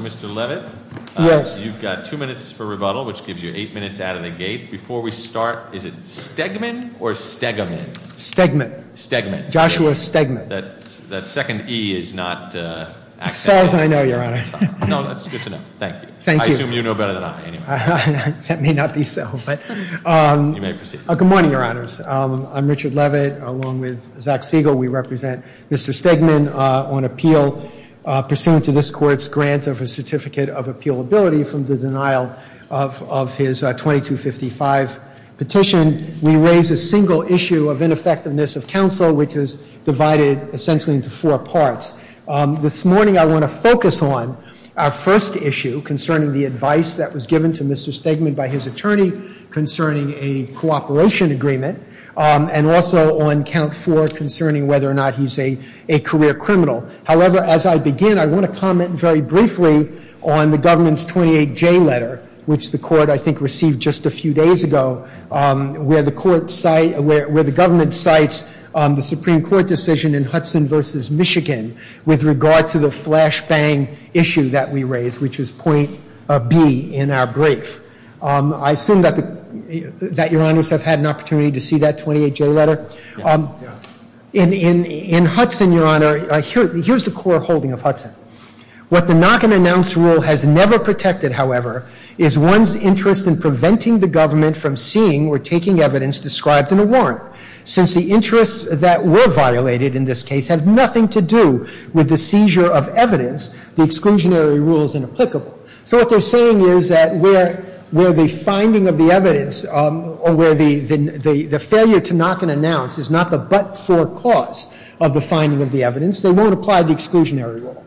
Mr. Levitt, you've got two minutes for rebuttal, which gives you eight minutes out of the gate. Before we start, is it Stegman or Stegaman? Stegman. Stegman. Joshua Stegman. That second E is not accepted. As far as I know, Your Honor. No, that's good to know. Thank you. Thank you. I assume you know better than I, anyway. That may not be so, but. You may proceed. Good morning, Your Honors. I'm Richard Levitt, along with Zach Siegel. We represent Mr. Stegman on appeal pursuant to this court's grant of a certificate of appealability from the denial of his 2255 petition. We raise a single issue of ineffectiveness of counsel, which is divided essentially into four parts. This morning, I want to focus on our first issue concerning the advice that was given to Mr. Stegman by his attorney concerning a cooperation agreement, and also on count four concerning whether or not he's a career criminal. However, as I begin, I want to comment very briefly on the government's 28J letter, which the court, I think, received just a few days ago, where the government cites the Supreme Court decision in Hudson versus Michigan with regard to the flash bang issue that we raised, which is point B in our brief. I assume that Your Honors have had an opportunity to see that 28J letter. In Hudson, Your Honor, here's the core holding of Hudson. What the knock and announce rule has never protected, however, is one's interest in preventing the government from seeing or taking evidence described in a warrant. Since the interests that were violated in this case have nothing to do with the seizure of evidence, the exclusionary rule is inapplicable. So what they're saying is that where the finding of the evidence, or where the failure to knock and announce is not the but for cause of the finding of the evidence, they won't apply the exclusionary rule.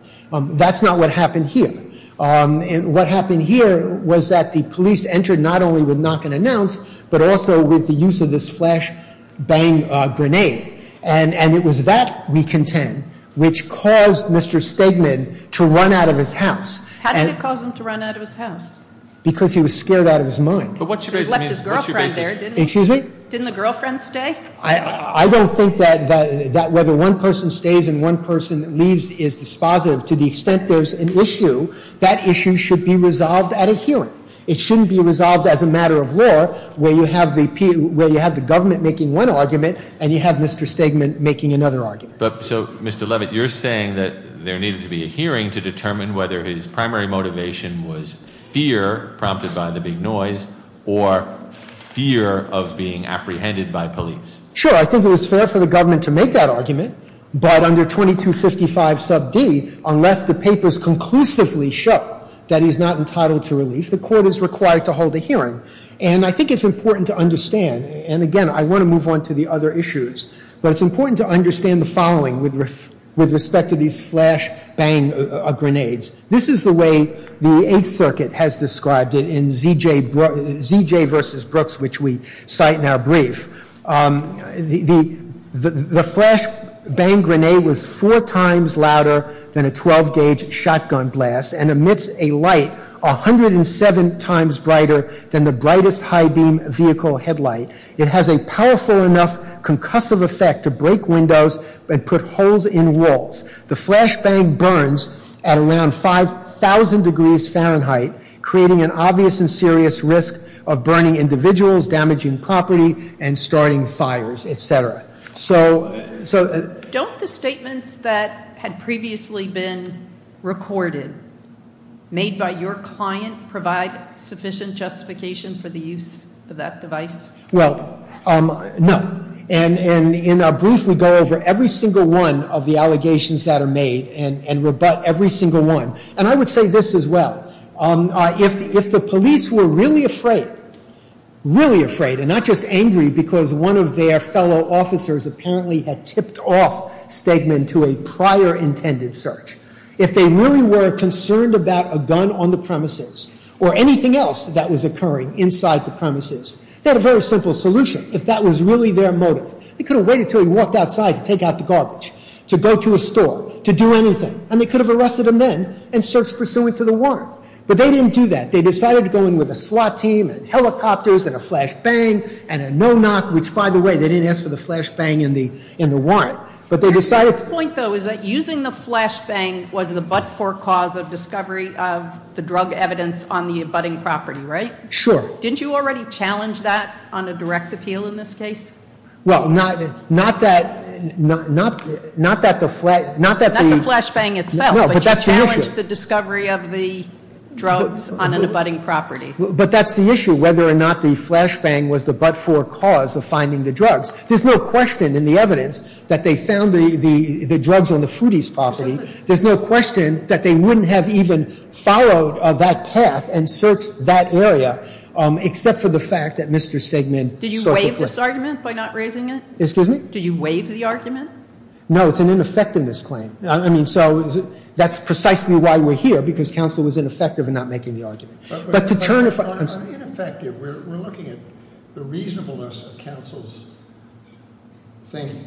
That's not what happened here. And what happened here was that the police entered not only with knock and announce, but also with the use of this flash bang grenade. And it was that, we contend, which caused Mr. Stegman to run out of his house. How did it cause him to run out of his house? Because he was scared out of his mind. But what you're raising means- He left his girlfriend there, didn't he? Excuse me? Didn't the girlfriend stay? I don't think that whether one person stays and one person leaves is dispositive. To the extent there's an issue, that issue should be resolved at a hearing. It shouldn't be resolved as a matter of law, where you have the government making one argument, and you have Mr. Stegman making another argument. But so, Mr. Levitt, you're saying that there needed to be a hearing to determine whether his primary motivation was fear, prompted by the big noise, or fear of being apprehended by police. Sure, I think it was fair for the government to make that argument. But under 2255 sub D, unless the papers conclusively show that he's not entitled to relief, the court is required to hold a hearing. And I think it's important to understand, and again, I want to move on to the other issues. But it's important to understand the following with respect to these flash bang grenades. This is the way the Eighth Circuit has described it in ZJ versus Brooks, which we cite in our brief. The flash bang grenade was four times louder than a 12 gauge shotgun blast, and emits a light 107 times brighter than the brightest high beam vehicle headlight. It has a powerful enough concussive effect to break windows and put holes in walls. The flash bang burns at around 5,000 degrees Fahrenheit, creating an obvious and serious risk of burning individuals, damaging property, and starting fires, etc. So- Don't the statements that had previously been recorded, made by your client, provide sufficient justification for the use of that device? Well, no, and in our brief, we go over every single one of the allegations that are made and rebut every single one. And I would say this as well, if the police were really afraid, really afraid, and not just angry because one of their fellow officers apparently had tipped off Stegman to a prior intended search. If they really were concerned about a gun on the premises, or anything else that was occurring inside the premises, they had a very simple solution, if that was really their motive. They could have waited until he walked outside to take out the garbage, to go to a store, to do anything. And they could have arrested him then, and searched pursuant to the warrant. But they didn't do that. They decided to go in with a slot team, and helicopters, and a flash bang, and a no knock. Which, by the way, they didn't ask for the flash bang in the warrant. But they decided- My point, though, is that using the flash bang was the but-for cause of discovery of the drug evidence on the abutting property, right? Sure. Didn't you already challenge that on a direct appeal in this case? Well, not that the- Not the flash bang itself, but you challenged the discovery of the drugs on an abutting property. But that's the issue, whether or not the flash bang was the but-for cause of finding the drugs. There's no question in the evidence that they found the drugs on the Foody's property. There's no question that they wouldn't have even followed that path and searched that area, except for the fact that Mr. Stegman- Did you waive this argument by not raising it? Excuse me? Did you waive the argument? No, it's an ineffectiveness claim. I mean, so that's precisely why we're here, because counsel was ineffective in not making the argument. But to turn it from- We're looking at the reasonableness of counsel's thinking.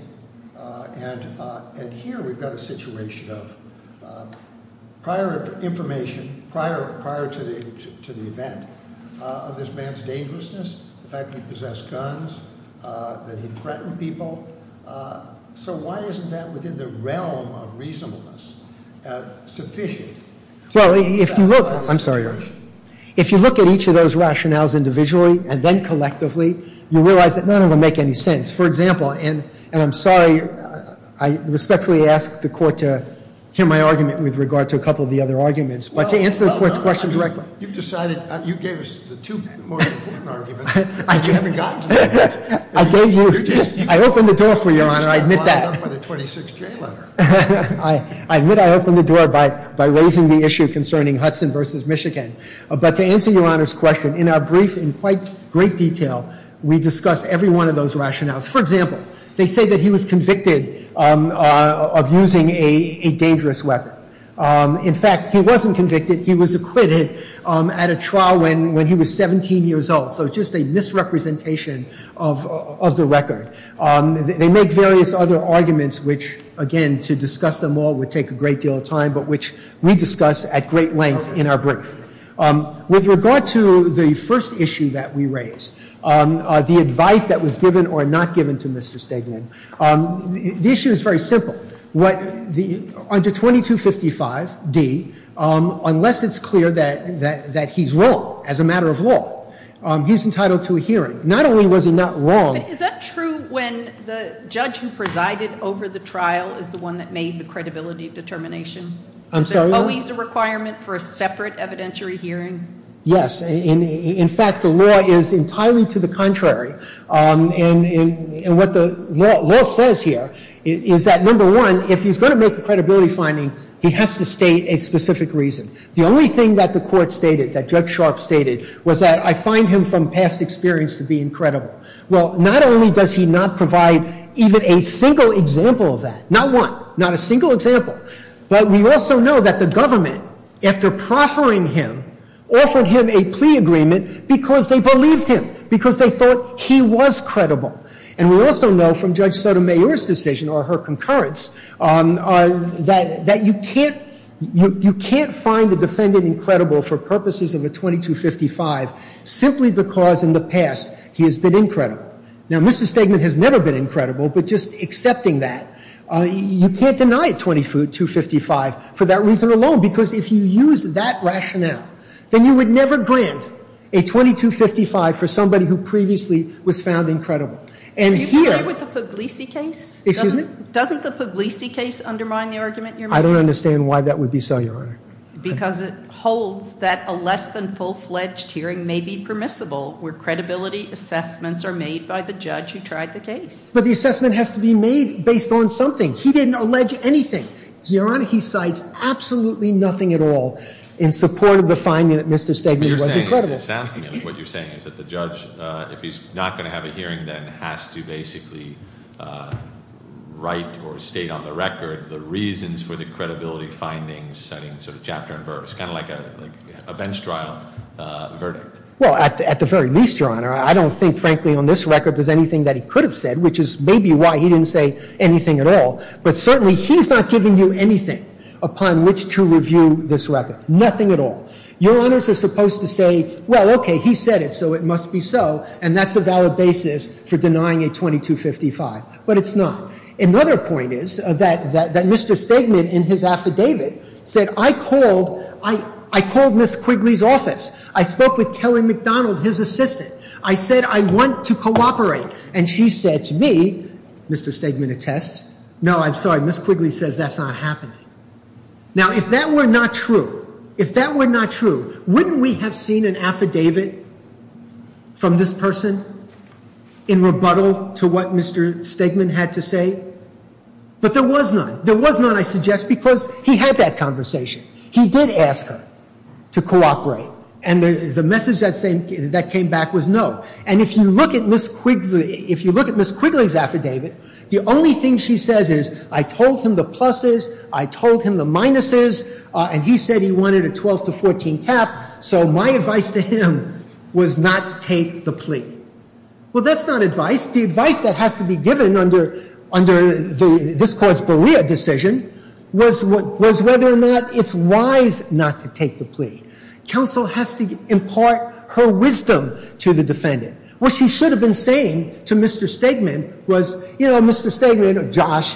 And here we've got a situation of prior information, prior to the event of this man's dangerousness, the fact that he possessed guns, that he threatened people. So why isn't that within the realm of reasonableness sufficient? Well, if you look- I'm sorry, Your Honor. If you look at each of those rationales individually, and then collectively, you realize that none of them make any sense. For example, and I'm sorry, I respectfully ask the court to hear my argument with regard to a couple of the other arguments. But to answer the court's question directly- You've decided, you gave us the two most important arguments, but you haven't gotten to them yet. I gave you- I opened the door for you, Your Honor, I admit that. For the 26J letter. I admit I opened the door by raising the issue concerning Hudson versus Michigan. But to answer Your Honor's question, in our brief, in quite great detail, we discuss every one of those rationales. For example, they say that he was convicted of using a dangerous weapon. In fact, he wasn't convicted, he was acquitted at a trial when he was 17 years old. So it's just a misrepresentation of the record. They make various other arguments which, again, to discuss them all would take a great deal of time, but which we discuss at great length in our brief. With regard to the first issue that we raised, the advice that was given or not given to Mr. Stegman. The issue is very simple. Under 2255D, unless it's clear that he's wrong as a matter of law, he's entitled to a hearing. Not only was he not wrong- But is that true when the judge who presided over the trial is the one that made the credibility determination? Is there always a requirement for a separate evidentiary hearing? Yes. In fact, the law is entirely to the contrary. And what the law says here is that number one, if he's going to make a credibility finding, he has to state a specific reason. The only thing that the court stated, that Judge Sharp stated, was that I find him from past experience to be incredible. Well, not only does he not provide even a single example of that, not one, not a single example. But we also know that the government, after proffering him, offered him a plea agreement because they believed him, because they thought he was credible. And we also know from Judge Sotomayor's decision or her concurrence that you can't find a defendant incredible for purposes of a 2255 simply because in the past he has been incredible. Now, Mr. Stegman has never been incredible, but just accepting that. You can't deny a 2255 for that reason alone, because if you use that rationale, then you would never grant a 2255 for somebody who previously was found incredible. And here- Do you agree with the Puglisi case? Excuse me? Doesn't the Puglisi case undermine the argument you're making? I don't understand why that would be so, Your Honor. Because it holds that a less than full-fledged hearing may be permissible, where credibility assessments are made by the judge who tried the case. But the assessment has to be made based on something. He didn't allege anything. Your Honor, he cites absolutely nothing at all in support of the finding that Mr. Stegman was incredible. It sounds to me like what you're saying is that the judge, if he's not going to have a hearing then, has to basically write or state on the record the reasons for the credibility findings, setting sort of chapter and verse. Kind of like a bench trial verdict. Well, at the very least, Your Honor, I don't think, frankly, on this record, there's anything that he could have said, which is maybe why he didn't say anything at all. But certainly, he's not giving you anything upon which to review this record. Nothing at all. Your Honors are supposed to say, well, okay, he said it, so it must be so. And that's a valid basis for denying a 2255, but it's not. Another point is that Mr. Stegman, in his affidavit, said, I called Ms. Quigley's office. I spoke with Kelly McDonald, his assistant. I said, I want to cooperate. And she said to me, Mr. Stegman attests, no, I'm sorry, Ms. Quigley says that's not happening. Now, if that were not true, wouldn't we have seen an affidavit from this person in rebuttal to what Mr. Stegman had to say? But there was none. There was none, I suggest, because he had that conversation. He did ask her to cooperate, and the message that came back was no. And if you look at Ms. Quigley's affidavit, the only thing she says is, I told him the pluses, I told him the minuses, and he said he wanted a 12 to 14 cap. So my advice to him was not to take the plea. Well, that's not advice. The advice that has to be given under this court's Berea decision was whether or not it's wise not to take the plea. Counsel has to impart her wisdom to the defendant. What she should have been saying to Mr. Stegman was, you know, Mr. Stegman, or Josh,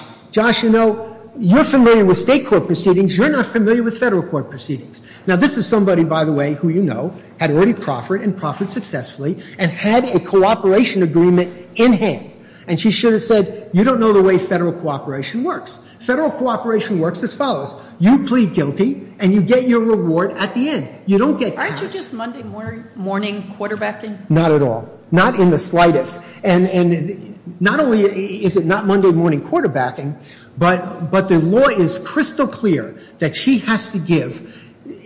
you know, you're familiar with state court proceedings, you're not familiar with federal court proceedings. Now, this is somebody, by the way, who you know, had already proffered and proffered successfully, and had a cooperation agreement in hand. And she should have said, you don't know the way federal cooperation works. Federal cooperation works as follows. You plead guilty, and you get your reward at the end. You don't get cash. Aren't you just Monday morning quarterbacking? Not at all. Not in the slightest. And not only is it not Monday morning quarterbacking, but the law is crystal clear that she has to give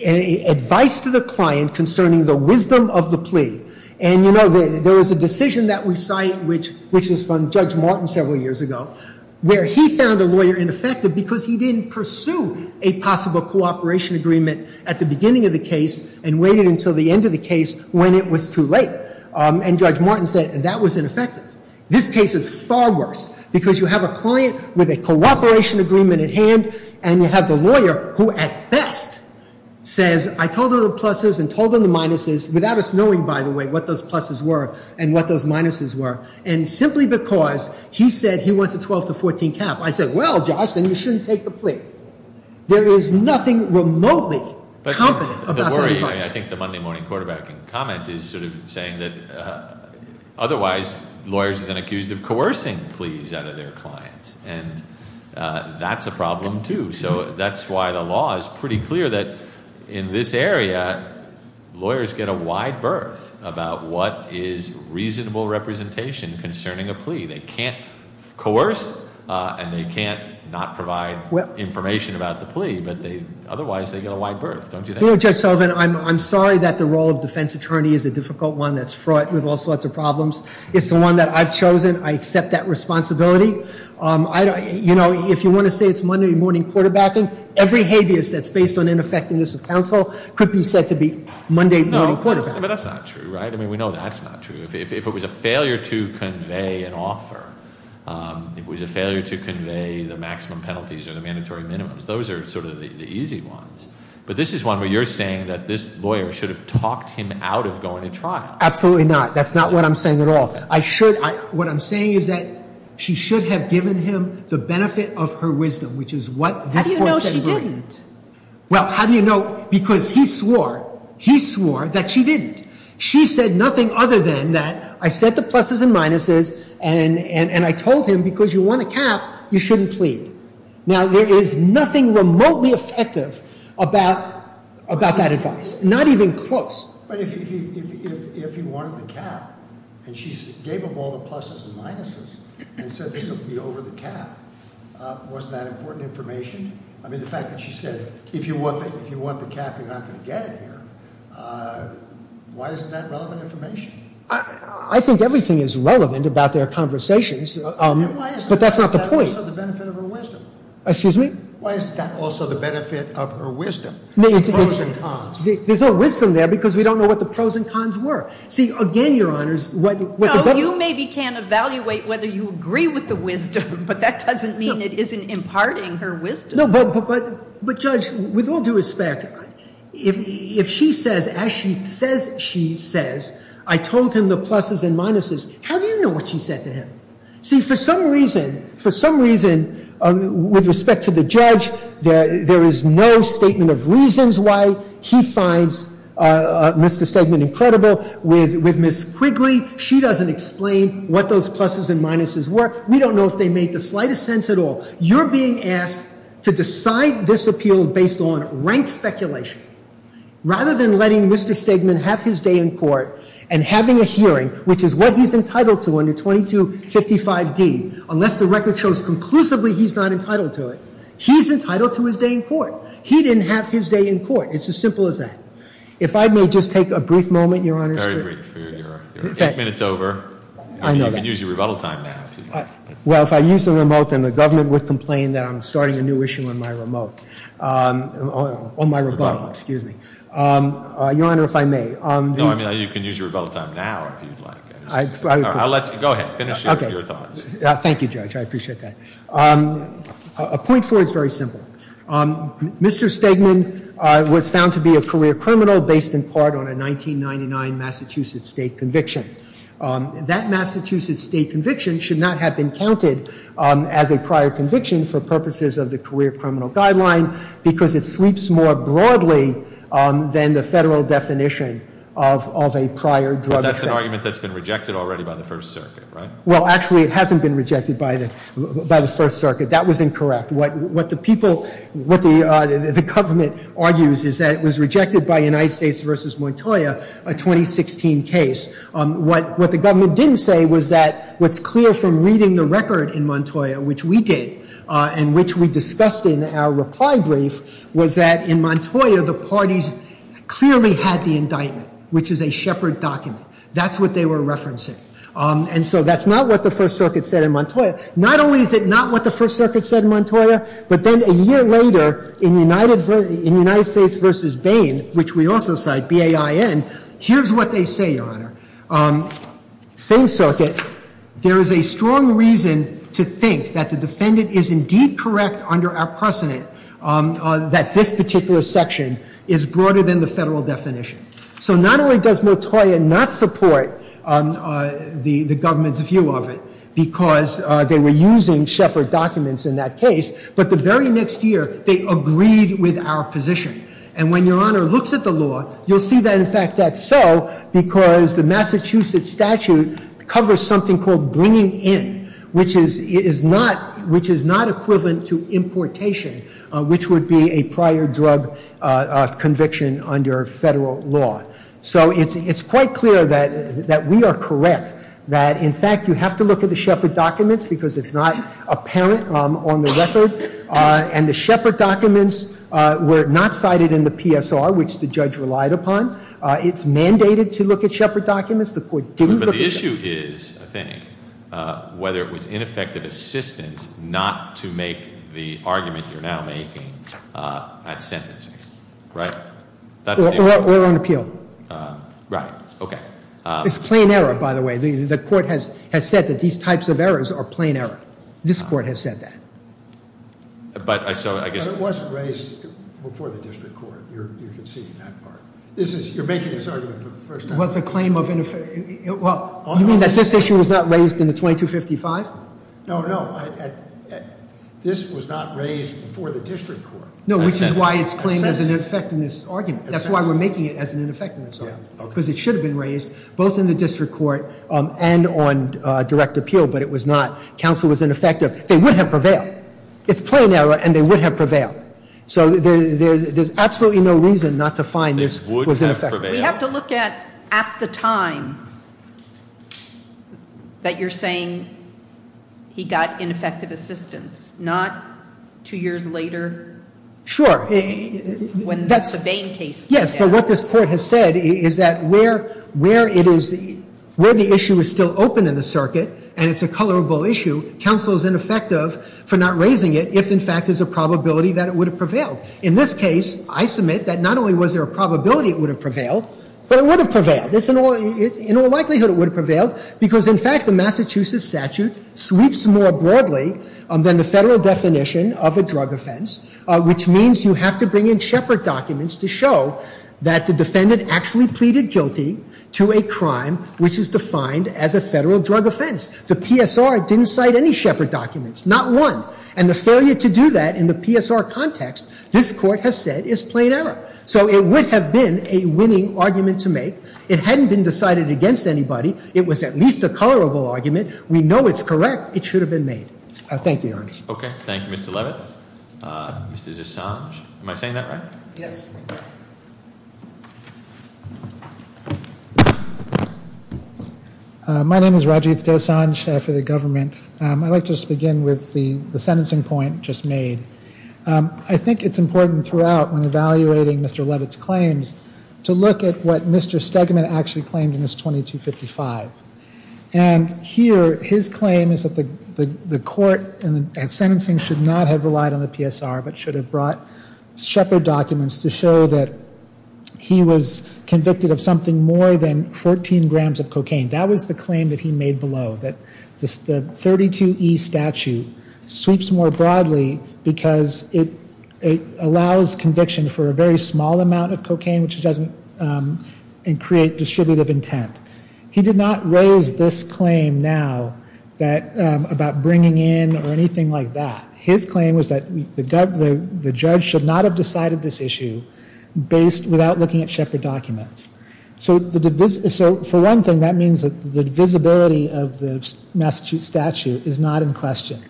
advice to the client concerning the wisdom of the plea. And you know, there was a decision that we cite, which was from Judge Martin several years ago, where he found the lawyer ineffective because he didn't pursue a possible cooperation agreement at the beginning of the case and waited until the end of the case when it was too late. And Judge Martin said, that was ineffective. This case is far worse, because you have a client with a cooperation agreement at hand, and you have the lawyer who at best says, I told her the pluses and told her the minuses, without us knowing, by the way, what those pluses were and what those minuses were. And simply because he said he wants a 12 to 14 cap, I said, well, Josh, then you shouldn't take the plea. There is nothing remotely competent about that advice. I think the Monday morning quarterbacking comment is sort of saying that otherwise, lawyers have been accused of coercing pleas out of their clients, and that's a problem too. So that's why the law is pretty clear that in this area, lawyers get a wide berth about what is reasonable representation concerning a plea. They can't coerce, and they can't not provide information about the plea, but otherwise they get a wide berth, don't you think? You know, Judge Sullivan, I'm sorry that the role of defense attorney is a difficult one that's fraught with all sorts of problems. It's the one that I've chosen. I accept that responsibility. If you want to say it's Monday morning quarterbacking, every habeas that's based on ineffectiveness of counsel could be said to be Monday morning quarterbacking. But that's not true, right? I mean, we know that's not true. If it was a failure to convey an offer, if it was a failure to convey the maximum penalties or the mandatory minimums, those are sort of the easy ones. But this is one where you're saying that this lawyer should have talked him out of going to trial. Absolutely not. That's not what I'm saying at all. What I'm saying is that she should have given him the benefit of her wisdom, which is what this court said- How do you know she didn't? Well, how do you know? Because he swore, he swore that she didn't. She said nothing other than that I said the pluses and minuses, and I told him because you won a cap, you shouldn't plead. Now, there is nothing remotely effective about that advice, not even close. But if he wanted the cap, and she gave him all the pluses and minuses, and said this will be over the cap, wasn't that important information? I mean, the fact that she said, if you want the cap, you're not going to get it here, why isn't that relevant information? I think everything is relevant about their conversations, but that's not the point. Why is that also the benefit of her wisdom? Excuse me? Why is that also the benefit of her wisdom? The pros and cons. There's no wisdom there, because we don't know what the pros and cons were. See, again, your honors, what- No, you maybe can't evaluate whether you agree with the wisdom, but that doesn't mean it isn't imparting her wisdom. No, but judge, with all due respect, if she says, as she says she says, I told him the pluses and minuses, how do you know what she said to him? See, for some reason, with respect to the judge, there is no statement of reasons why he finds Mr. Stegman incredible. With Ms. Quigley, she doesn't explain what those pluses and minuses were. We don't know if they made the slightest sense at all. You're being asked to decide this appeal based on rank speculation, rather than letting Mr. Stegman have his day in court and having a hearing, which is what he's entitled to under 2255D, unless the record shows conclusively he's not entitled to it. He's entitled to his day in court. He didn't have his day in court. It's as simple as that. If I may just take a brief moment, your honors. Very brief, you're eight minutes over. I know that. You can use your rebuttal time now. Well, if I use the remote, then the government would complain that I'm starting a new issue on my remote, on my rebuttal, excuse me. Your honor, if I may, on the- No, I mean you can use your rebuttal time now if you'd like. I'll let you, go ahead, finish your thoughts. Thank you, Judge. I appreciate that. A point four is very simple. Mr. Stegman was found to be a career criminal based in part on a 1999 Massachusetts state conviction. That Massachusetts state conviction should not have been counted as a prior conviction for purposes of the career criminal guideline because it sleeps more broadly than the federal definition of a prior drug offense. But that's an argument that's been rejected already by the First Circuit, right? Well, actually, it hasn't been rejected by the First Circuit. That was incorrect. What the people, what the government argues is that it was rejected by United States versus Montoya, a 2016 case. What the government didn't say was that what's clear from reading the record in Montoya, which we did, and which we discussed in our reply brief, was that in Montoya, the parties clearly had the indictment, which is a shepherd document. That's what they were referencing. And so that's not what the First Circuit said in Montoya. Not only is it not what the First Circuit said in Montoya, but then a year later in United States versus Bain, which we also cite, B-A-I-N, here's what they say, Your Honor. Same circuit, there is a strong reason to think that the defendant is indeed correct under our precedent that this particular section is broader than the federal definition. So not only does Montoya not support the government's view of it, because they were using shepherd documents in that case, but the very next year, they agreed with our position. And when Your Honor looks at the law, you'll see that, in fact, that's so because the Massachusetts statute covers something called bringing in, which is not equivalent to importation, which would be a prior drug conviction under federal law. So it's quite clear that we are correct, that in fact, you have to look at the shepherd documents because it's not apparent on the record. And the shepherd documents were not cited in the PSR, which the judge relied upon. It's mandated to look at shepherd documents. The court didn't look at them. But the issue is, I think, whether it was ineffective assistance not to make the argument you're now making at sentencing, right? That's the- Or on appeal. Right, okay. It's plain error, by the way. The court has said that these types of errors are plain error. This court has said that. But I saw, I guess- It was raised before the district court. You're conceding that part. This is, you're making this argument for the first time. Well, it's a claim of, well, you mean that this issue was not raised in the 2255? No, no, this was not raised before the district court. No, which is why it's claimed as an effectiveness argument. That's why we're making it as an effectiveness argument, because it should have been raised both in the district court and on direct appeal, but it was not. Counsel was ineffective. They would have prevailed. It's plain error, and they would have prevailed. So there's absolutely no reason not to find this was ineffective. We have to look at the time that you're saying he got ineffective assistance, not two years later. Sure. When that's a Bain case. Yes, but what this court has said is that where the issue is still open in the circuit, and it's a colorable issue, counsel is ineffective for not raising it if, in fact, there's a probability that it would have prevailed. In this case, I submit that not only was there a probability it would have prevailed, but it would have prevailed. In all likelihood, it would have prevailed because, in fact, the Massachusetts statute sweeps more broadly than the federal definition of a drug offense, which means you have to bring in shepherd documents to show that the defendant actually pleaded guilty to a crime which is defined as a federal drug offense. The PSR didn't cite any shepherd documents, not one. And the failure to do that in the PSR context, this court has said, is plain error. So it would have been a winning argument to make. It hadn't been decided against anybody. It was at least a colorable argument. We know it's correct. It should have been made. Thank you, Your Honor. Okay, thank you, Mr. Levitt, Mr. Dessange. Am I saying that right? Yes. My name is Rajiv Dessange, chief of the government. I'd like to just begin with the sentencing point just made. I think it's important throughout, when evaluating Mr. Levitt's claims, to look at what Mr. Stegman actually claimed in his 2255. And here, his claim is that the court and sentencing should not have relied on the PSR, but should have brought shepherd documents to show that he was convicted of something more than 14 grams of cocaine. That was the claim that he made below, that the 32E statute sweeps more broadly because it allows conviction for a very small amount of cocaine, which doesn't create distributive intent. He did not raise this claim now about bringing in or anything like that. His claim was that the judge should not have decided this issue without looking at shepherd documents. So for one thing, that means that the visibility of the Massachusetts statute is not in question.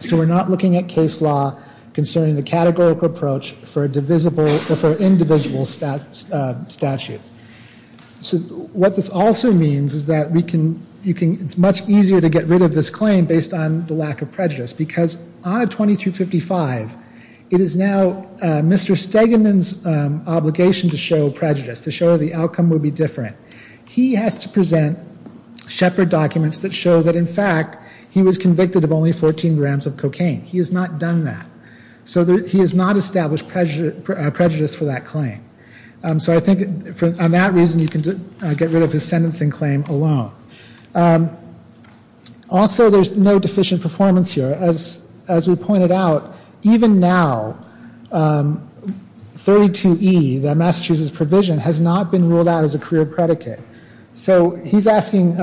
So we're not looking at case law concerning the categorical approach for individual statutes. So what this also means is that it's much easier to get rid of this claim based on the lack of prejudice. Because on a 2255, it is now Mr. Stegman's obligation to show prejudice, to show the outcome would be different. He has to present shepherd documents that show that, in fact, he was convicted of only 14 grams of cocaine. He has not done that. So he has not established prejudice for that claim. So I think on that reason, you can get rid of his sentencing claim alone. Also, there's no deficient performance here. As we pointed out, even now, 32E, the Massachusetts provision, has not been ruled out as a career predicate. So he's asking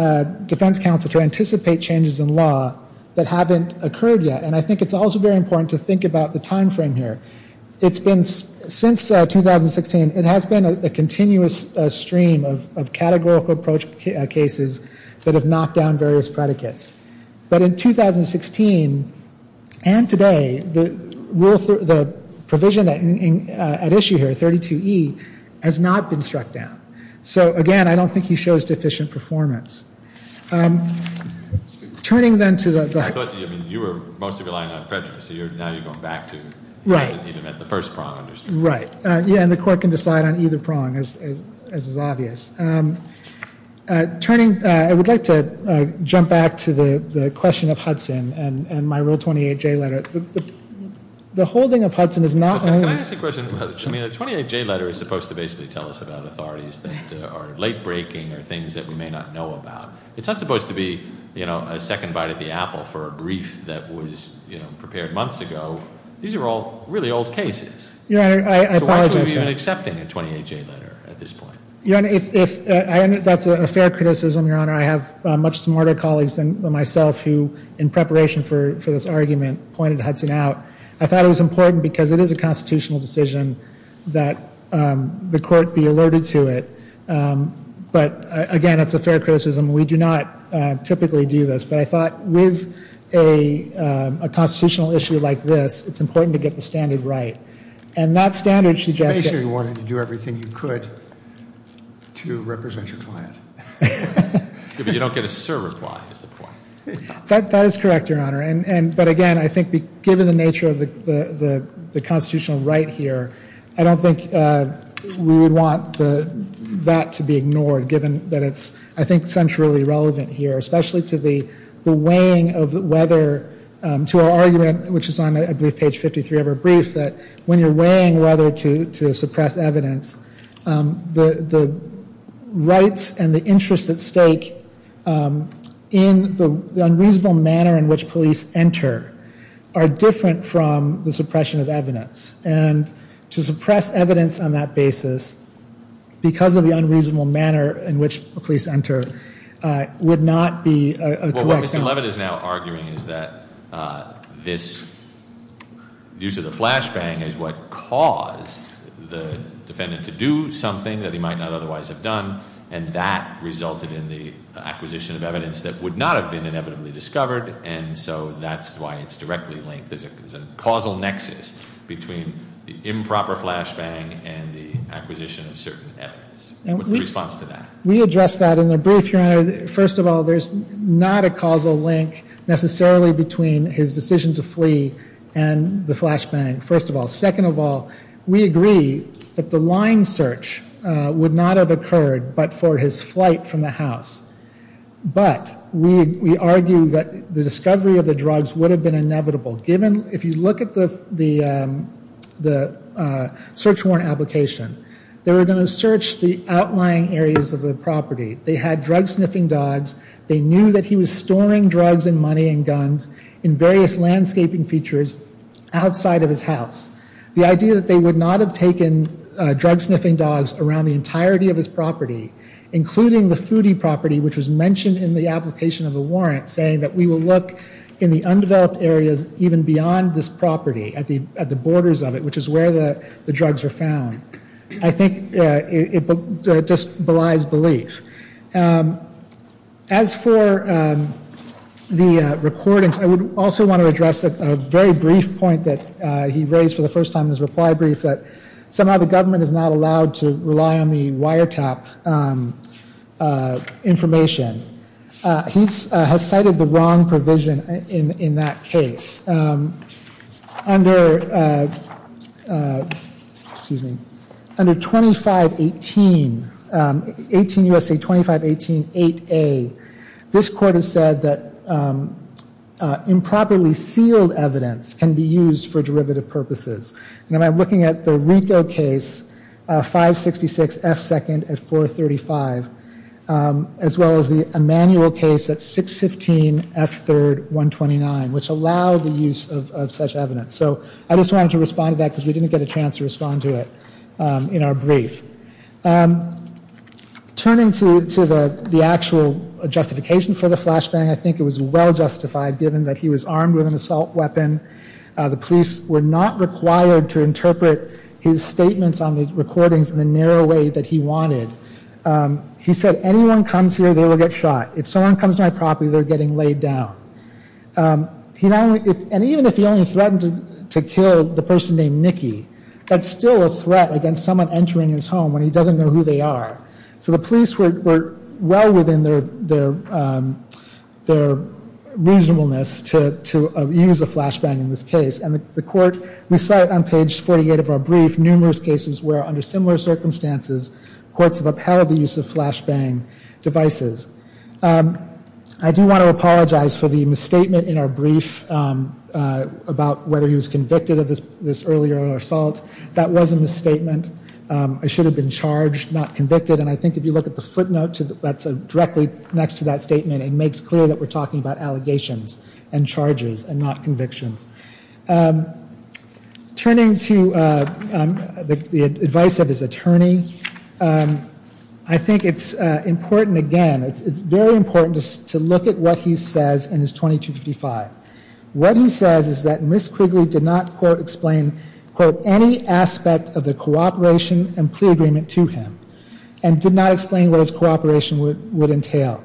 defense counsel to anticipate changes in law that haven't occurred yet. And I think it's also very important to think about the timeframe here. It's been, since 2016, it has been a continuous stream of categorical approach cases that have knocked down various predicates. But in 2016 and today, the provision at issue here, 32E, has not been struck down. So again, I don't think he shows deficient performance. Turning then to the- You were mostly relying on prejudice. Now you're going back to the first prong. Right. Yeah, and the court can decide on either prong, as is obvious. I would like to jump back to the question of Hudson and my Rule 28J letter. The holding of Hudson is not only- Can I ask a question? The 28J letter is supposed to basically tell us about authorities that are late-breaking or things that we may not know about. It's not supposed to be a second bite of the apple for a brief that was prepared months ago. These are all really old cases. Your Honor, I apologize- So why should we be even accepting a 28J letter at this point? Your Honor, that's a fair criticism, Your Honor. I have much smarter colleagues than myself who, in preparation for this argument, pointed Hudson out. I thought it was important because it is a constitutional decision that the court be alerted to it. But again, it's a fair criticism. We do not typically do this. But I thought with a constitutional issue like this, it's important to get the standard right. And that standard should just- Make sure you wanted to do everything you could to represent your client. You don't get a sir reply is the point. That is correct, Your Honor. But again, I think given the nature of the constitutional right here, I don't think we would want that to be ignored given that it's, I think, centrally relevant here. Especially to the weighing of whether, to our argument, which is on, I believe, page 53 of our brief, that when you're weighing whether to suppress evidence, the rights and the interests at stake in the unreasonable manner in which police enter are different from the suppression of evidence. And to suppress evidence on that basis, because of the unreasonable manner in which police enter, would not be a correct- Well, what Mr. Leavitt is now arguing is that this use of the flashbang is what caused the defendant to do something that he might not otherwise have done, and that resulted in the acquisition of evidence that would not have been inevitably discovered. And so that's why it's directly linked. There's a causal nexus between the improper flashbang and the acquisition of certain evidence. What's the response to that? We addressed that in the brief, Your Honor. First of all, there's not a causal link necessarily between his decision to flee and the flashbang, first of all. Second of all, we agree that the line search would not have occurred but for his flight from the house. But we argue that the discovery of the drugs would have been inevitable, given- If you look at the search warrant application, they were going to search the outlying areas of the property. They had drug-sniffing dogs. They knew that he was storing drugs and money and guns in various landscaping features outside of his house. The idea that they would not have taken drug-sniffing dogs around the entirety of his property, including the foodie property, which was mentioned in the application of the warrant, saying that we will look in the undeveloped areas even beyond this property, at the borders of it, which is where the drugs were found, I think it just belies belief. As for the recordings, I would also want to address a very brief point that he raised for the first time in his reply brief, that somehow the government is not allowed to rely on the wiretap information. He has cited the wrong provision in that case. Under 2518, 18 U.S.A. 2518 8A, this court has said that improperly sealed evidence can be used for derivative purposes. And I'm looking at the Rico case, 566 F. 2nd at 435, as well as the Emanuel case at 615 F. 3rd 129, which allowed the use of such evidence. So I just wanted to respond to that because we didn't get a chance to respond to it in our brief. Turning to the actual justification for the flashbang, I think it was well justified, given that he was armed with an assault weapon. The police were not required to interpret his statements on the recordings in the narrow way that he wanted. He said, anyone comes here, they will get shot. If someone comes to my property, they're getting laid down. And even if he only threatened to kill the person named Nikki, that's still a threat against someone entering his home when he doesn't know who they are. So the police were well within their reasonableness to use a flashbang in this case. And the court, we saw it on page 48 of our brief, numerous cases where under similar circumstances, courts have upheld the use of flashbang devices. I do want to apologize for the misstatement in our brief about whether he was convicted of this earlier assault. That was a misstatement. I should have been charged, not convicted. And I think if you look at the footnote that's directly next to that statement, it makes clear that we're talking about allegations and charges and not convictions. Turning to the advice of his attorney, I think it's important, again, it's very important to look at what he says in his 2255. What he says is that Ms. Quigley did not quote, explain, quote, any aspect of the cooperation and plea agreement to him, and did not explain what his cooperation would entail.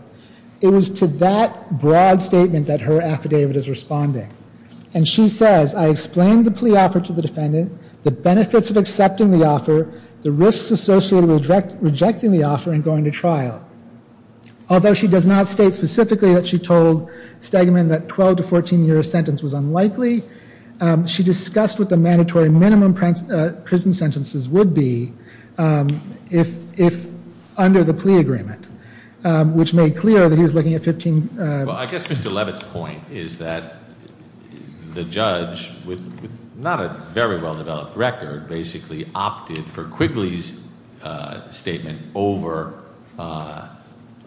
It was to that broad statement that her affidavit is responding. And she says, I explained the plea offer to the defendant, the benefits of accepting the offer, the risks associated with rejecting the offer and going to trial. Although she does not state specifically that she told Stegman that a 12 to 14 year sentence was unlikely, she discussed what the mandatory minimum prison sentences would be if under the plea agreement. Which made clear that he was looking at 15- Well, I guess Mr. Levitt's point is that the judge, with not a very well developed record, basically opted for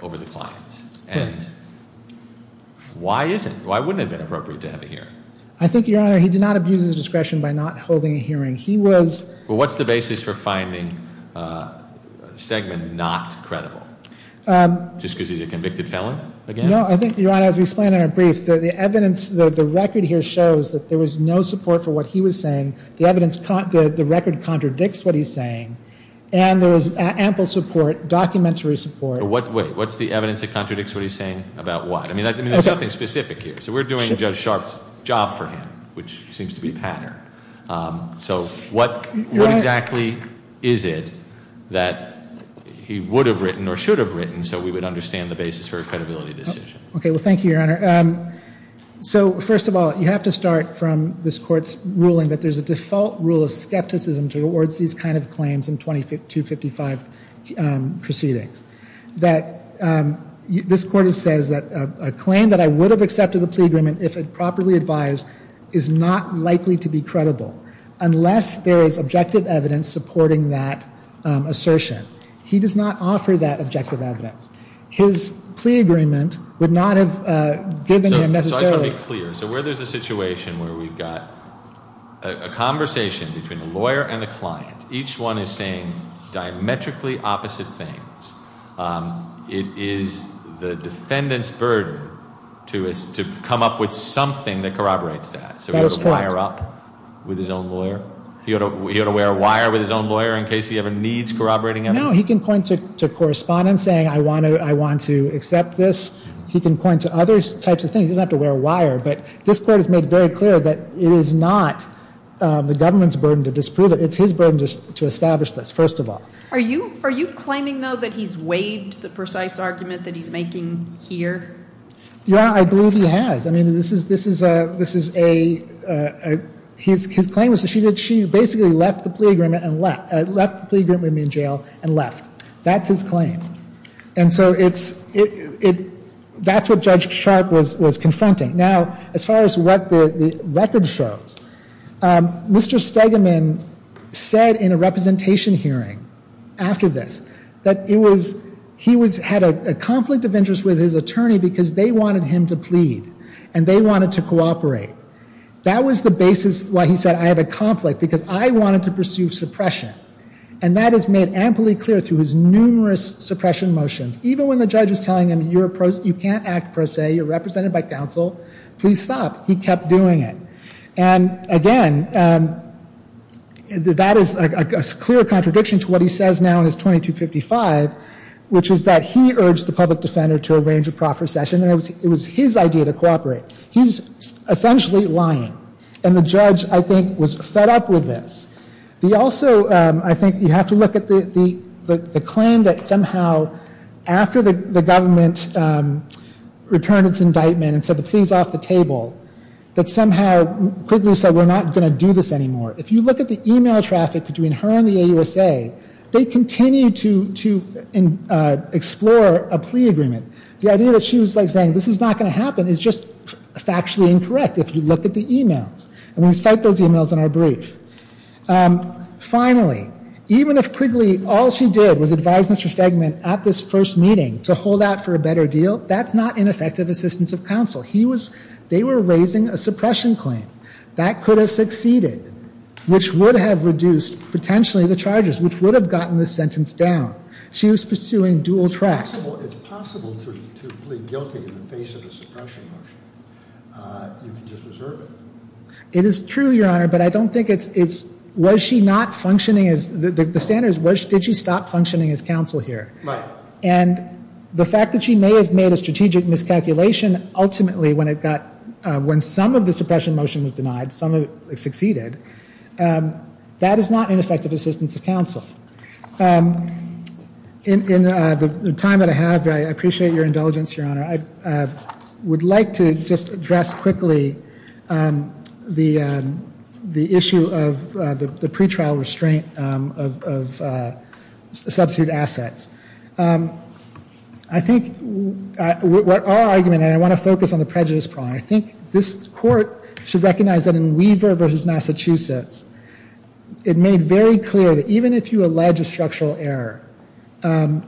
over the clients, and why isn't, why wouldn't it have been appropriate to have a hearing? I think, your honor, he did not abuse his discretion by not holding a hearing. He was- Well, what's the basis for finding Stegman not credible? Just because he's a convicted felon, again? No, I think, your honor, as we explained in our brief, the evidence, the record here shows that there was no support for what he was saying. The evidence, the record contradicts what he's saying. And there was ample support, documentary support- What, wait, what's the evidence that contradicts what he's saying about what? I mean, there's nothing specific here. So we're doing Judge Sharpe's job for him, which seems to be patterned. So what exactly is it that he would have written or should have written so we would understand the basis for a credibility decision? Okay, well thank you, your honor. So first of all, you have to start from this court's ruling that there's a default rule of skepticism towards these kind of claims in 2255 proceedings. That this court says that a claim that I would have accepted the plea agreement if it properly advised is not likely to be credible unless there is objective evidence supporting that assertion. He does not offer that objective evidence. His plea agreement would not have given him necessarily- So where there's a situation where we've got a conversation between a lawyer and a client. Each one is saying diametrically opposite things. It is the defendant's burden to come up with something that corroborates that. So he ought to wire up with his own lawyer? He ought to wear a wire with his own lawyer in case he ever needs corroborating evidence? No, he can point to correspondence saying I want to accept this. He can point to other types of things. He doesn't have to wear a wire. But this court has made very clear that it is not the government's burden to disprove it. It's his burden to establish this, first of all. Are you claiming though that he's waived the precise argument that he's making here? Your honor, I believe he has. I mean this is a, his claim was that she basically left the plea agreement with me in jail and left. That's his claim. And so it's, that's what Judge Sharp was confronting. Now, as far as what the record shows, Mr. Stegeman said in a representation hearing after this, that he had a conflict of interest with his attorney because they wanted him to plead. And they wanted to cooperate. That was the basis why he said I have a conflict, because I wanted to pursue suppression. And that is made amply clear through his numerous suppression motions. Even when the judge is telling him you can't act per se, you're represented by counsel, please stop. He kept doing it. And again, that is a clear contradiction to what he says now in his 2255, which is that he urged the public defender to arrange a proffer session and it was his idea to cooperate. He's essentially lying. And the judge, I think, was fed up with this. He also, I think, you have to look at the claim that somehow, after the government returned its indictment and said the plea's off the table, that somehow Quigley said we're not going to do this anymore. If you look at the email traffic between her and the AUSA, they continue to explore a plea agreement. The idea that she was saying this is not going to happen is just factually incorrect if you look at the emails. And we cite those emails in our brief. Finally, even if Quigley, all she did was advise Mr. Stegman at this first meeting to hold out for a better deal, that's not ineffective assistance of counsel. They were raising a suppression claim. That could have succeeded, which would have reduced, potentially, the charges, which would have gotten the sentence down. She was pursuing dual tracks. It's possible to plead guilty in the face of a suppression motion. You can just reserve it. It is true, Your Honor, but I don't think it's, was she not functioning as, the standard is, did she stop functioning as counsel here? Right. And the fact that she may have made a strategic miscalculation ultimately when it got, when some of the suppression motion was denied, some of it succeeded, that is not ineffective assistance of counsel. In the time that I have, I appreciate your indulgence, Your Honor. I would like to just address quickly the issue of the pretrial restraint of substitute assets. I think, our argument, and I want to focus on the prejudice problem, I think this Court should recognize that in Weaver v. Massachusetts, it made very clear that even if you allege a structural error, and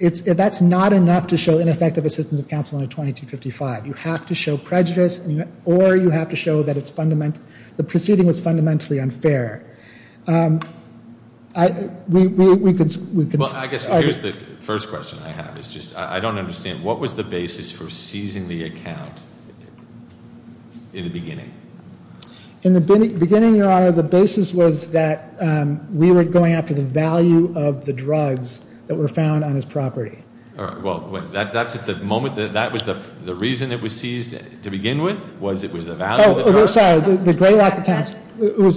that's not enough to show ineffective assistance of counsel under 2255. You have to show prejudice, or you have to show that the proceeding was fundamentally unfair. We could- Well, I guess, here's the first question I have, is just, I don't understand. What was the basis for seizing the account in the beginning? In the beginning, Your Honor, the basis was that we were going after the value of the drugs that were found on his property. All right, well, that's at the moment, that was the reason it was seized to begin with, was it was the value of the drugs? Sorry, the Greylock accounts,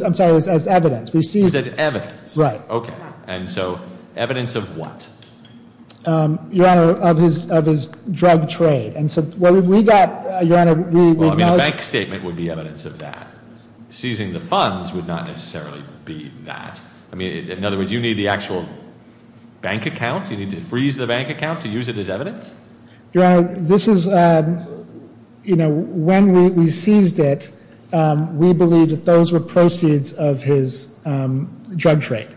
I'm sorry, it was as evidence. It was as evidence? Right. Okay. And so, evidence of what? Your Honor, of his drug trade. And so, what we got, Your Honor, we- I mean, a bank statement would be evidence of that. Seizing the funds would not necessarily be that. I mean, in other words, you need the actual bank account, you need to freeze the bank account to use it as evidence? Your Honor, this is, when we seized it, we believed that those were proceeds of his drug trade.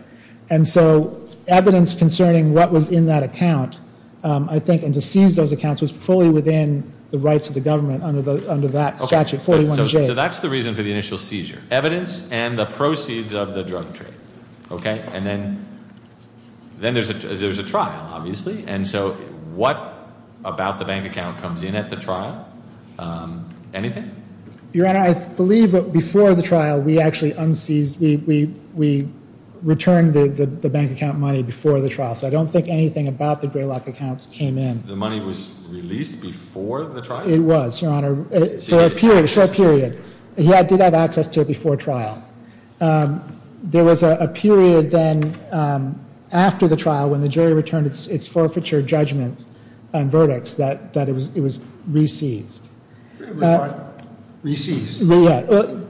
And so, evidence concerning what was in that account, I think, and when we seized those accounts was fully within the rights of the government under that statute, 41-J. So that's the reason for the initial seizure, evidence and the proceeds of the drug trade, okay? And then, there's a trial, obviously, and so what about the bank account comes in at the trial, anything? Your Honor, I believe that before the trial, we actually unseized, we returned the bank account money before the trial. So, I don't think anything about the Greylock accounts came in. The money was released before the trial? It was, Your Honor, for a period, a short period. He did have access to it before trial. There was a period then, after the trial, when the jury returned its forfeiture judgments and verdicts, that it was re-seized. It was what? Re-seized? Yeah,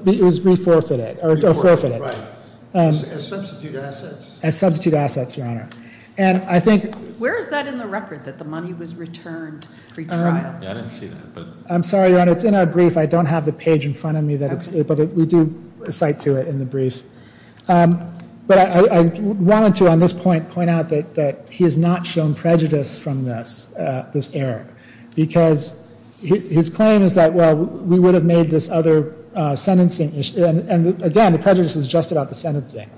it was re-forfeited, or forfeited. Right, as substitute assets. As substitute assets, Your Honor. And I think- Where is that in the record, that the money was returned pre-trial? Yeah, I didn't see that, but- I'm sorry, Your Honor, it's in our brief. I don't have the page in front of me, but we do cite to it in the brief. But I wanted to, on this point, point out that he has not shown prejudice from this error. Because his claim is that, well, we would have made this other sentencing issue, and again, the prejudice is just about the sentencing.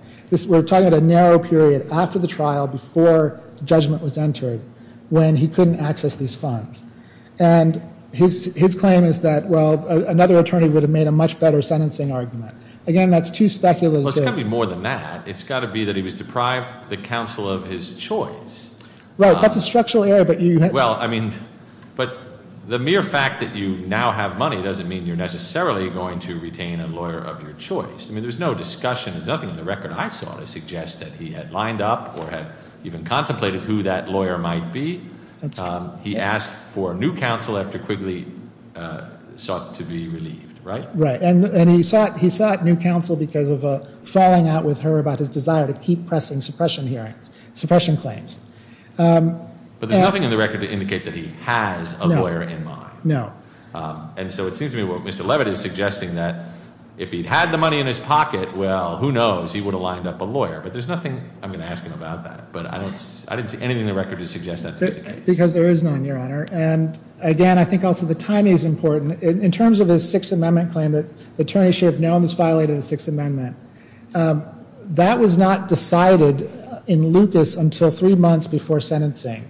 We're talking about a narrow period after the trial, before judgment was entered, when he couldn't access these funds. And his claim is that, well, another attorney would have made a much better sentencing argument. Again, that's too speculative. Well, it's got to be more than that. It's got to be that he was deprived the counsel of his choice. Right, that's a structural error, but you have- Well, I mean, but the mere fact that you now have money doesn't mean you're necessarily going to retain a lawyer of your choice. I mean, there's no discussion, there's nothing in the record I saw to suggest that he had lined up or had even contemplated who that lawyer might be. He asked for new counsel after Quigley sought to be relieved, right? Right, and he sought new counsel because of falling out with her about his desire to keep pressing suppression claims. But there's nothing in the record to indicate that he has a lawyer in mind. No. And so it seems to me what Mr. Levitt is suggesting that if he'd had the money in his pocket, well, who knows, he would have lined up a lawyer. But there's nothing I'm going to ask him about that. But I didn't see anything in the record to suggest that's the case. Because there is none, Your Honor. And again, I think also the timing is important. In terms of his Sixth Amendment claim, the attorney should have known this violated the Sixth Amendment. That was not decided in Lucas until three months before sentencing.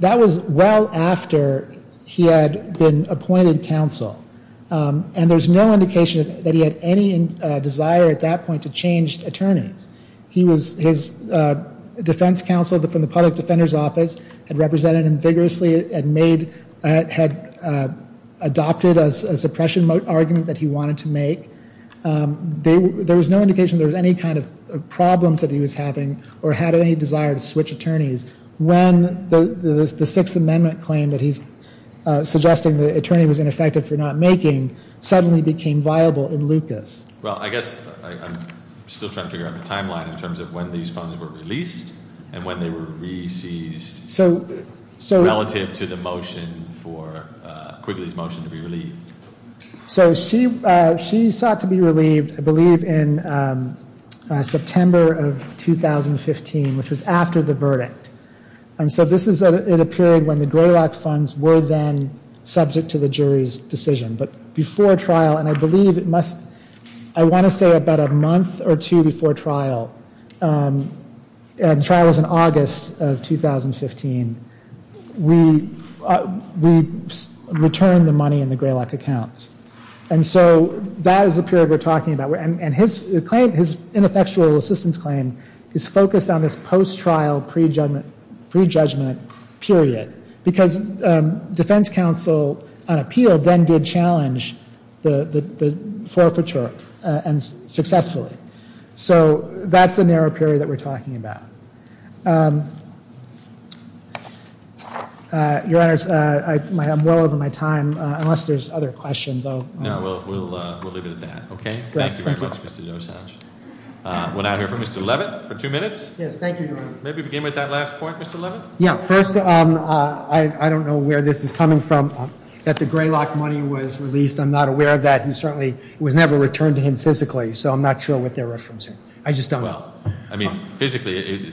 That was well after he had been appointed counsel. And there's no indication that he had any desire at that point to change attorneys. He was, his defense counsel from the Public Defender's Office had represented him vigorously and made, had adopted a suppression argument that he wanted to make. There was no indication there was any kind of problems that he was having or had any desire to switch attorneys when the Sixth Amendment claim that he's suggesting the attorney was ineffective for not making suddenly became viable in Lucas. Well, I guess I'm still trying to figure out the timeline in terms of when these funds were released and when they were re-seized relative to the motion for Quigley's motion to be relieved. So she sought to be relieved, I believe, in September of 2015, which was after the verdict. And so this is in a period when the Greylock funds were then subject to the jury's decision. But before trial, and I believe it must, I want to say about a month or two before trial, and the trial was in August of 2015, we returned the money in the Greylock accounts. And so that is the period we're talking about. And his claim, his ineffectual assistance claim is focused on this post-trial pre-judgment period. Because defense counsel on appeal then did challenge the forfeiture and successfully. So that's the narrow period that we're talking about. Your Honor, I'm well over my time, unless there's other questions. No, we'll leave it at that, okay? Thank you very much, Mr. Dosage. We'll now hear from Mr. Leavitt for two minutes. Yes, thank you, Your Honor. Maybe begin with that last point, Mr. Leavitt. Yeah, first, I don't know where this is coming from, that the Greylock money was released. I'm not aware of that. He certainly was never returned to him physically, so I'm not sure what they're referencing. I just don't know. I mean, physically, it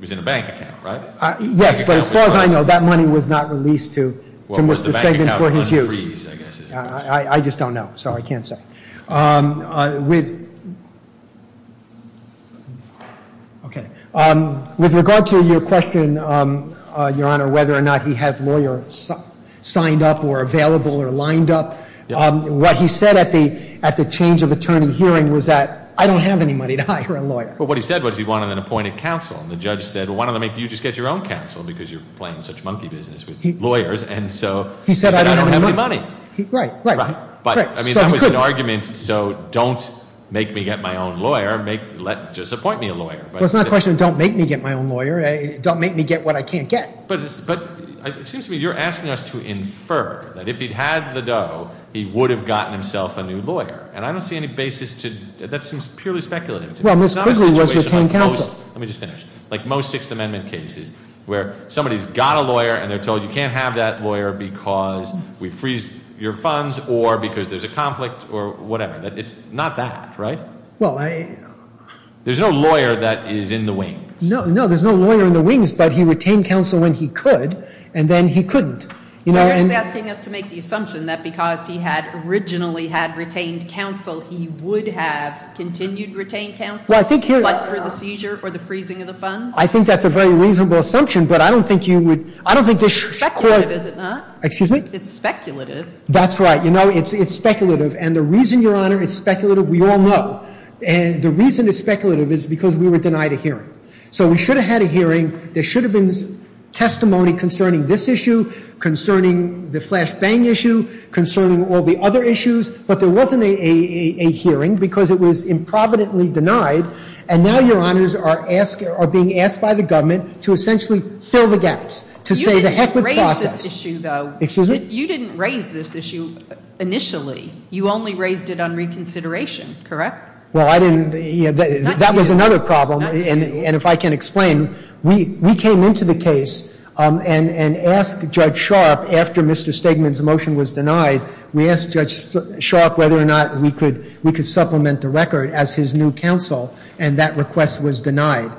was in a bank account, right? Yes, but as far as I know, that money was not released to Mr. Sagan for his use. I just don't know, so I can't say. Okay, with regard to your question, Your Honor, whether or not he had lawyers signed up or available or lined up. What he said at the change of attorney hearing was that, I don't have any money to hire a lawyer. But what he said was he wanted an appointed counsel, and the judge said, why don't you just get your own counsel, because you're playing such monkey business with lawyers. And so, he said, I don't have any money. Right, right. But, I mean, that was an argument, so don't make me get my own lawyer, just appoint me a lawyer. Well, it's not a question of don't make me get my own lawyer, don't make me get what I can't get. But, it seems to me you're asking us to infer that if he'd had the dough, he would have gotten himself a new lawyer. And I don't see any basis to, that seems purely speculative to me. It's not a situation like most, let me just finish, like most Sixth Amendment cases, where somebody's got a lawyer and they're told you can't have that lawyer because we've freezed your funds or because there's a conflict or whatever, it's not that, right? Well, I. There's no lawyer that is in the wings. No, no, there's no lawyer in the wings, but he retained counsel when he could, and then he couldn't. You know, and- So, you're just asking us to make the assumption that because he had originally had retained counsel, he would have continued retained counsel, but for the seizure or the freezing of the funds? I think that's a very reasonable assumption, but I don't think you would, I don't think this should. Speculative, is it not? Excuse me? It's speculative. That's right, you know, it's speculative, and the reason, Your Honor, it's speculative, we all know. And the reason it's speculative is because we were denied a hearing. So, we should have had a hearing, there should have been testimony concerning this issue, concerning the flash bang issue, concerning all the other issues, but there wasn't a hearing because it was improvidently denied. And now, Your Honors are being asked by the government to essentially fill the gaps, to say the heck with the process. You didn't raise this issue, though. Excuse me? You didn't raise this issue initially. You only raised it on reconsideration, correct? Well, I didn't, that was another problem, and if I can explain. We came into the case and asked Judge Sharp, after Mr. Stegman's motion was denied, we asked Judge Sharp whether or not we could supplement the record as his new counsel, and that request was denied.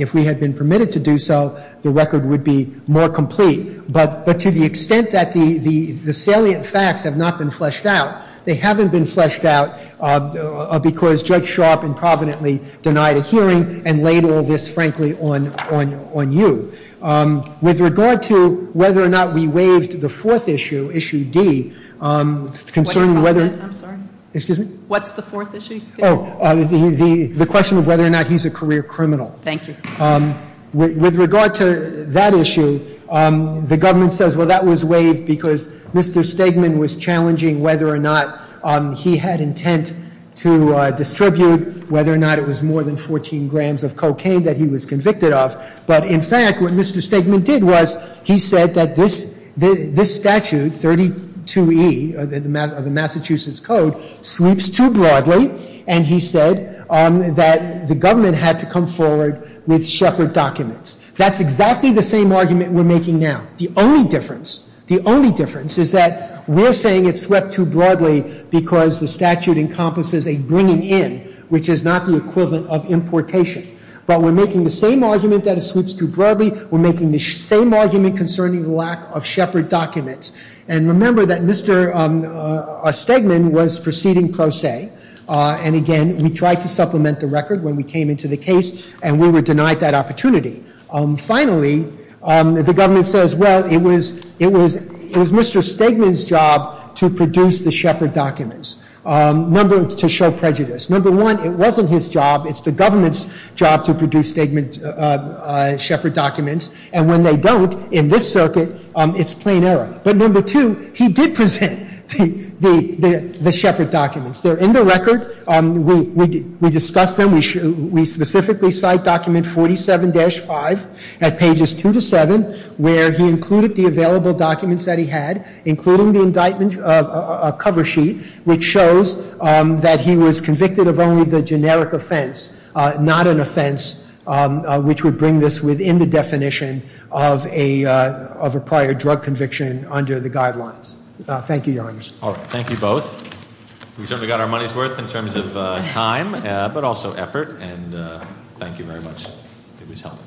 If we had been permitted to do so, the record would be more complete. But to the extent that the salient facts have not been fleshed out, they haven't been fleshed out because Judge Sharp improvidently denied a hearing and laid all this, frankly, on you. With regard to whether or not we waived the fourth issue, issue D, concerning whether- I'm sorry. Excuse me? What's the fourth issue? The question of whether or not he's a career criminal. Thank you. With regard to that issue, the government says, well, that was waived because Mr. Stegman was challenging whether or not he had intent to distribute, whether or not it was more than 14 grams of cocaine that he was convicted of. But in fact, what Mr. Stegman did was, he said that this statute, 32E of the Massachusetts Code, sweeps too broadly, and he said that the government had to come forward with Shepard documents. That's exactly the same argument we're making now. The only difference, the only difference is that we're saying it swept too broadly because the statute encompasses a bringing in, which is not the equivalent of importation. But we're making the same argument that it sweeps too broadly. We're making the same argument concerning the lack of Shepard documents. And remember that Mr. Stegman was proceeding pro se, and again, we tried to supplement the record when we came into the case, and we were denied that opportunity. Finally, the government says, well, it was Mr. Stegman's job to produce the Shepard documents, to show prejudice. Number one, it wasn't his job, it's the government's job to produce Stegman, Shepard documents. And when they don't, in this circuit, it's plain error. But number two, he did present the Shepard documents. They're in the record, we discussed them, we specifically cite document 47-5 at pages two to seven, where he included the available documents that he had, including the indictment of a cover sheet, which shows that he was convicted of only the generic offense, not an offense which would bring this within the definition of a prior drug conviction under the guidelines. Thank you, Your Honor. All right, thank you both. We certainly got our money's worth in terms of time, but also effort, and thank you very much. It was helpful.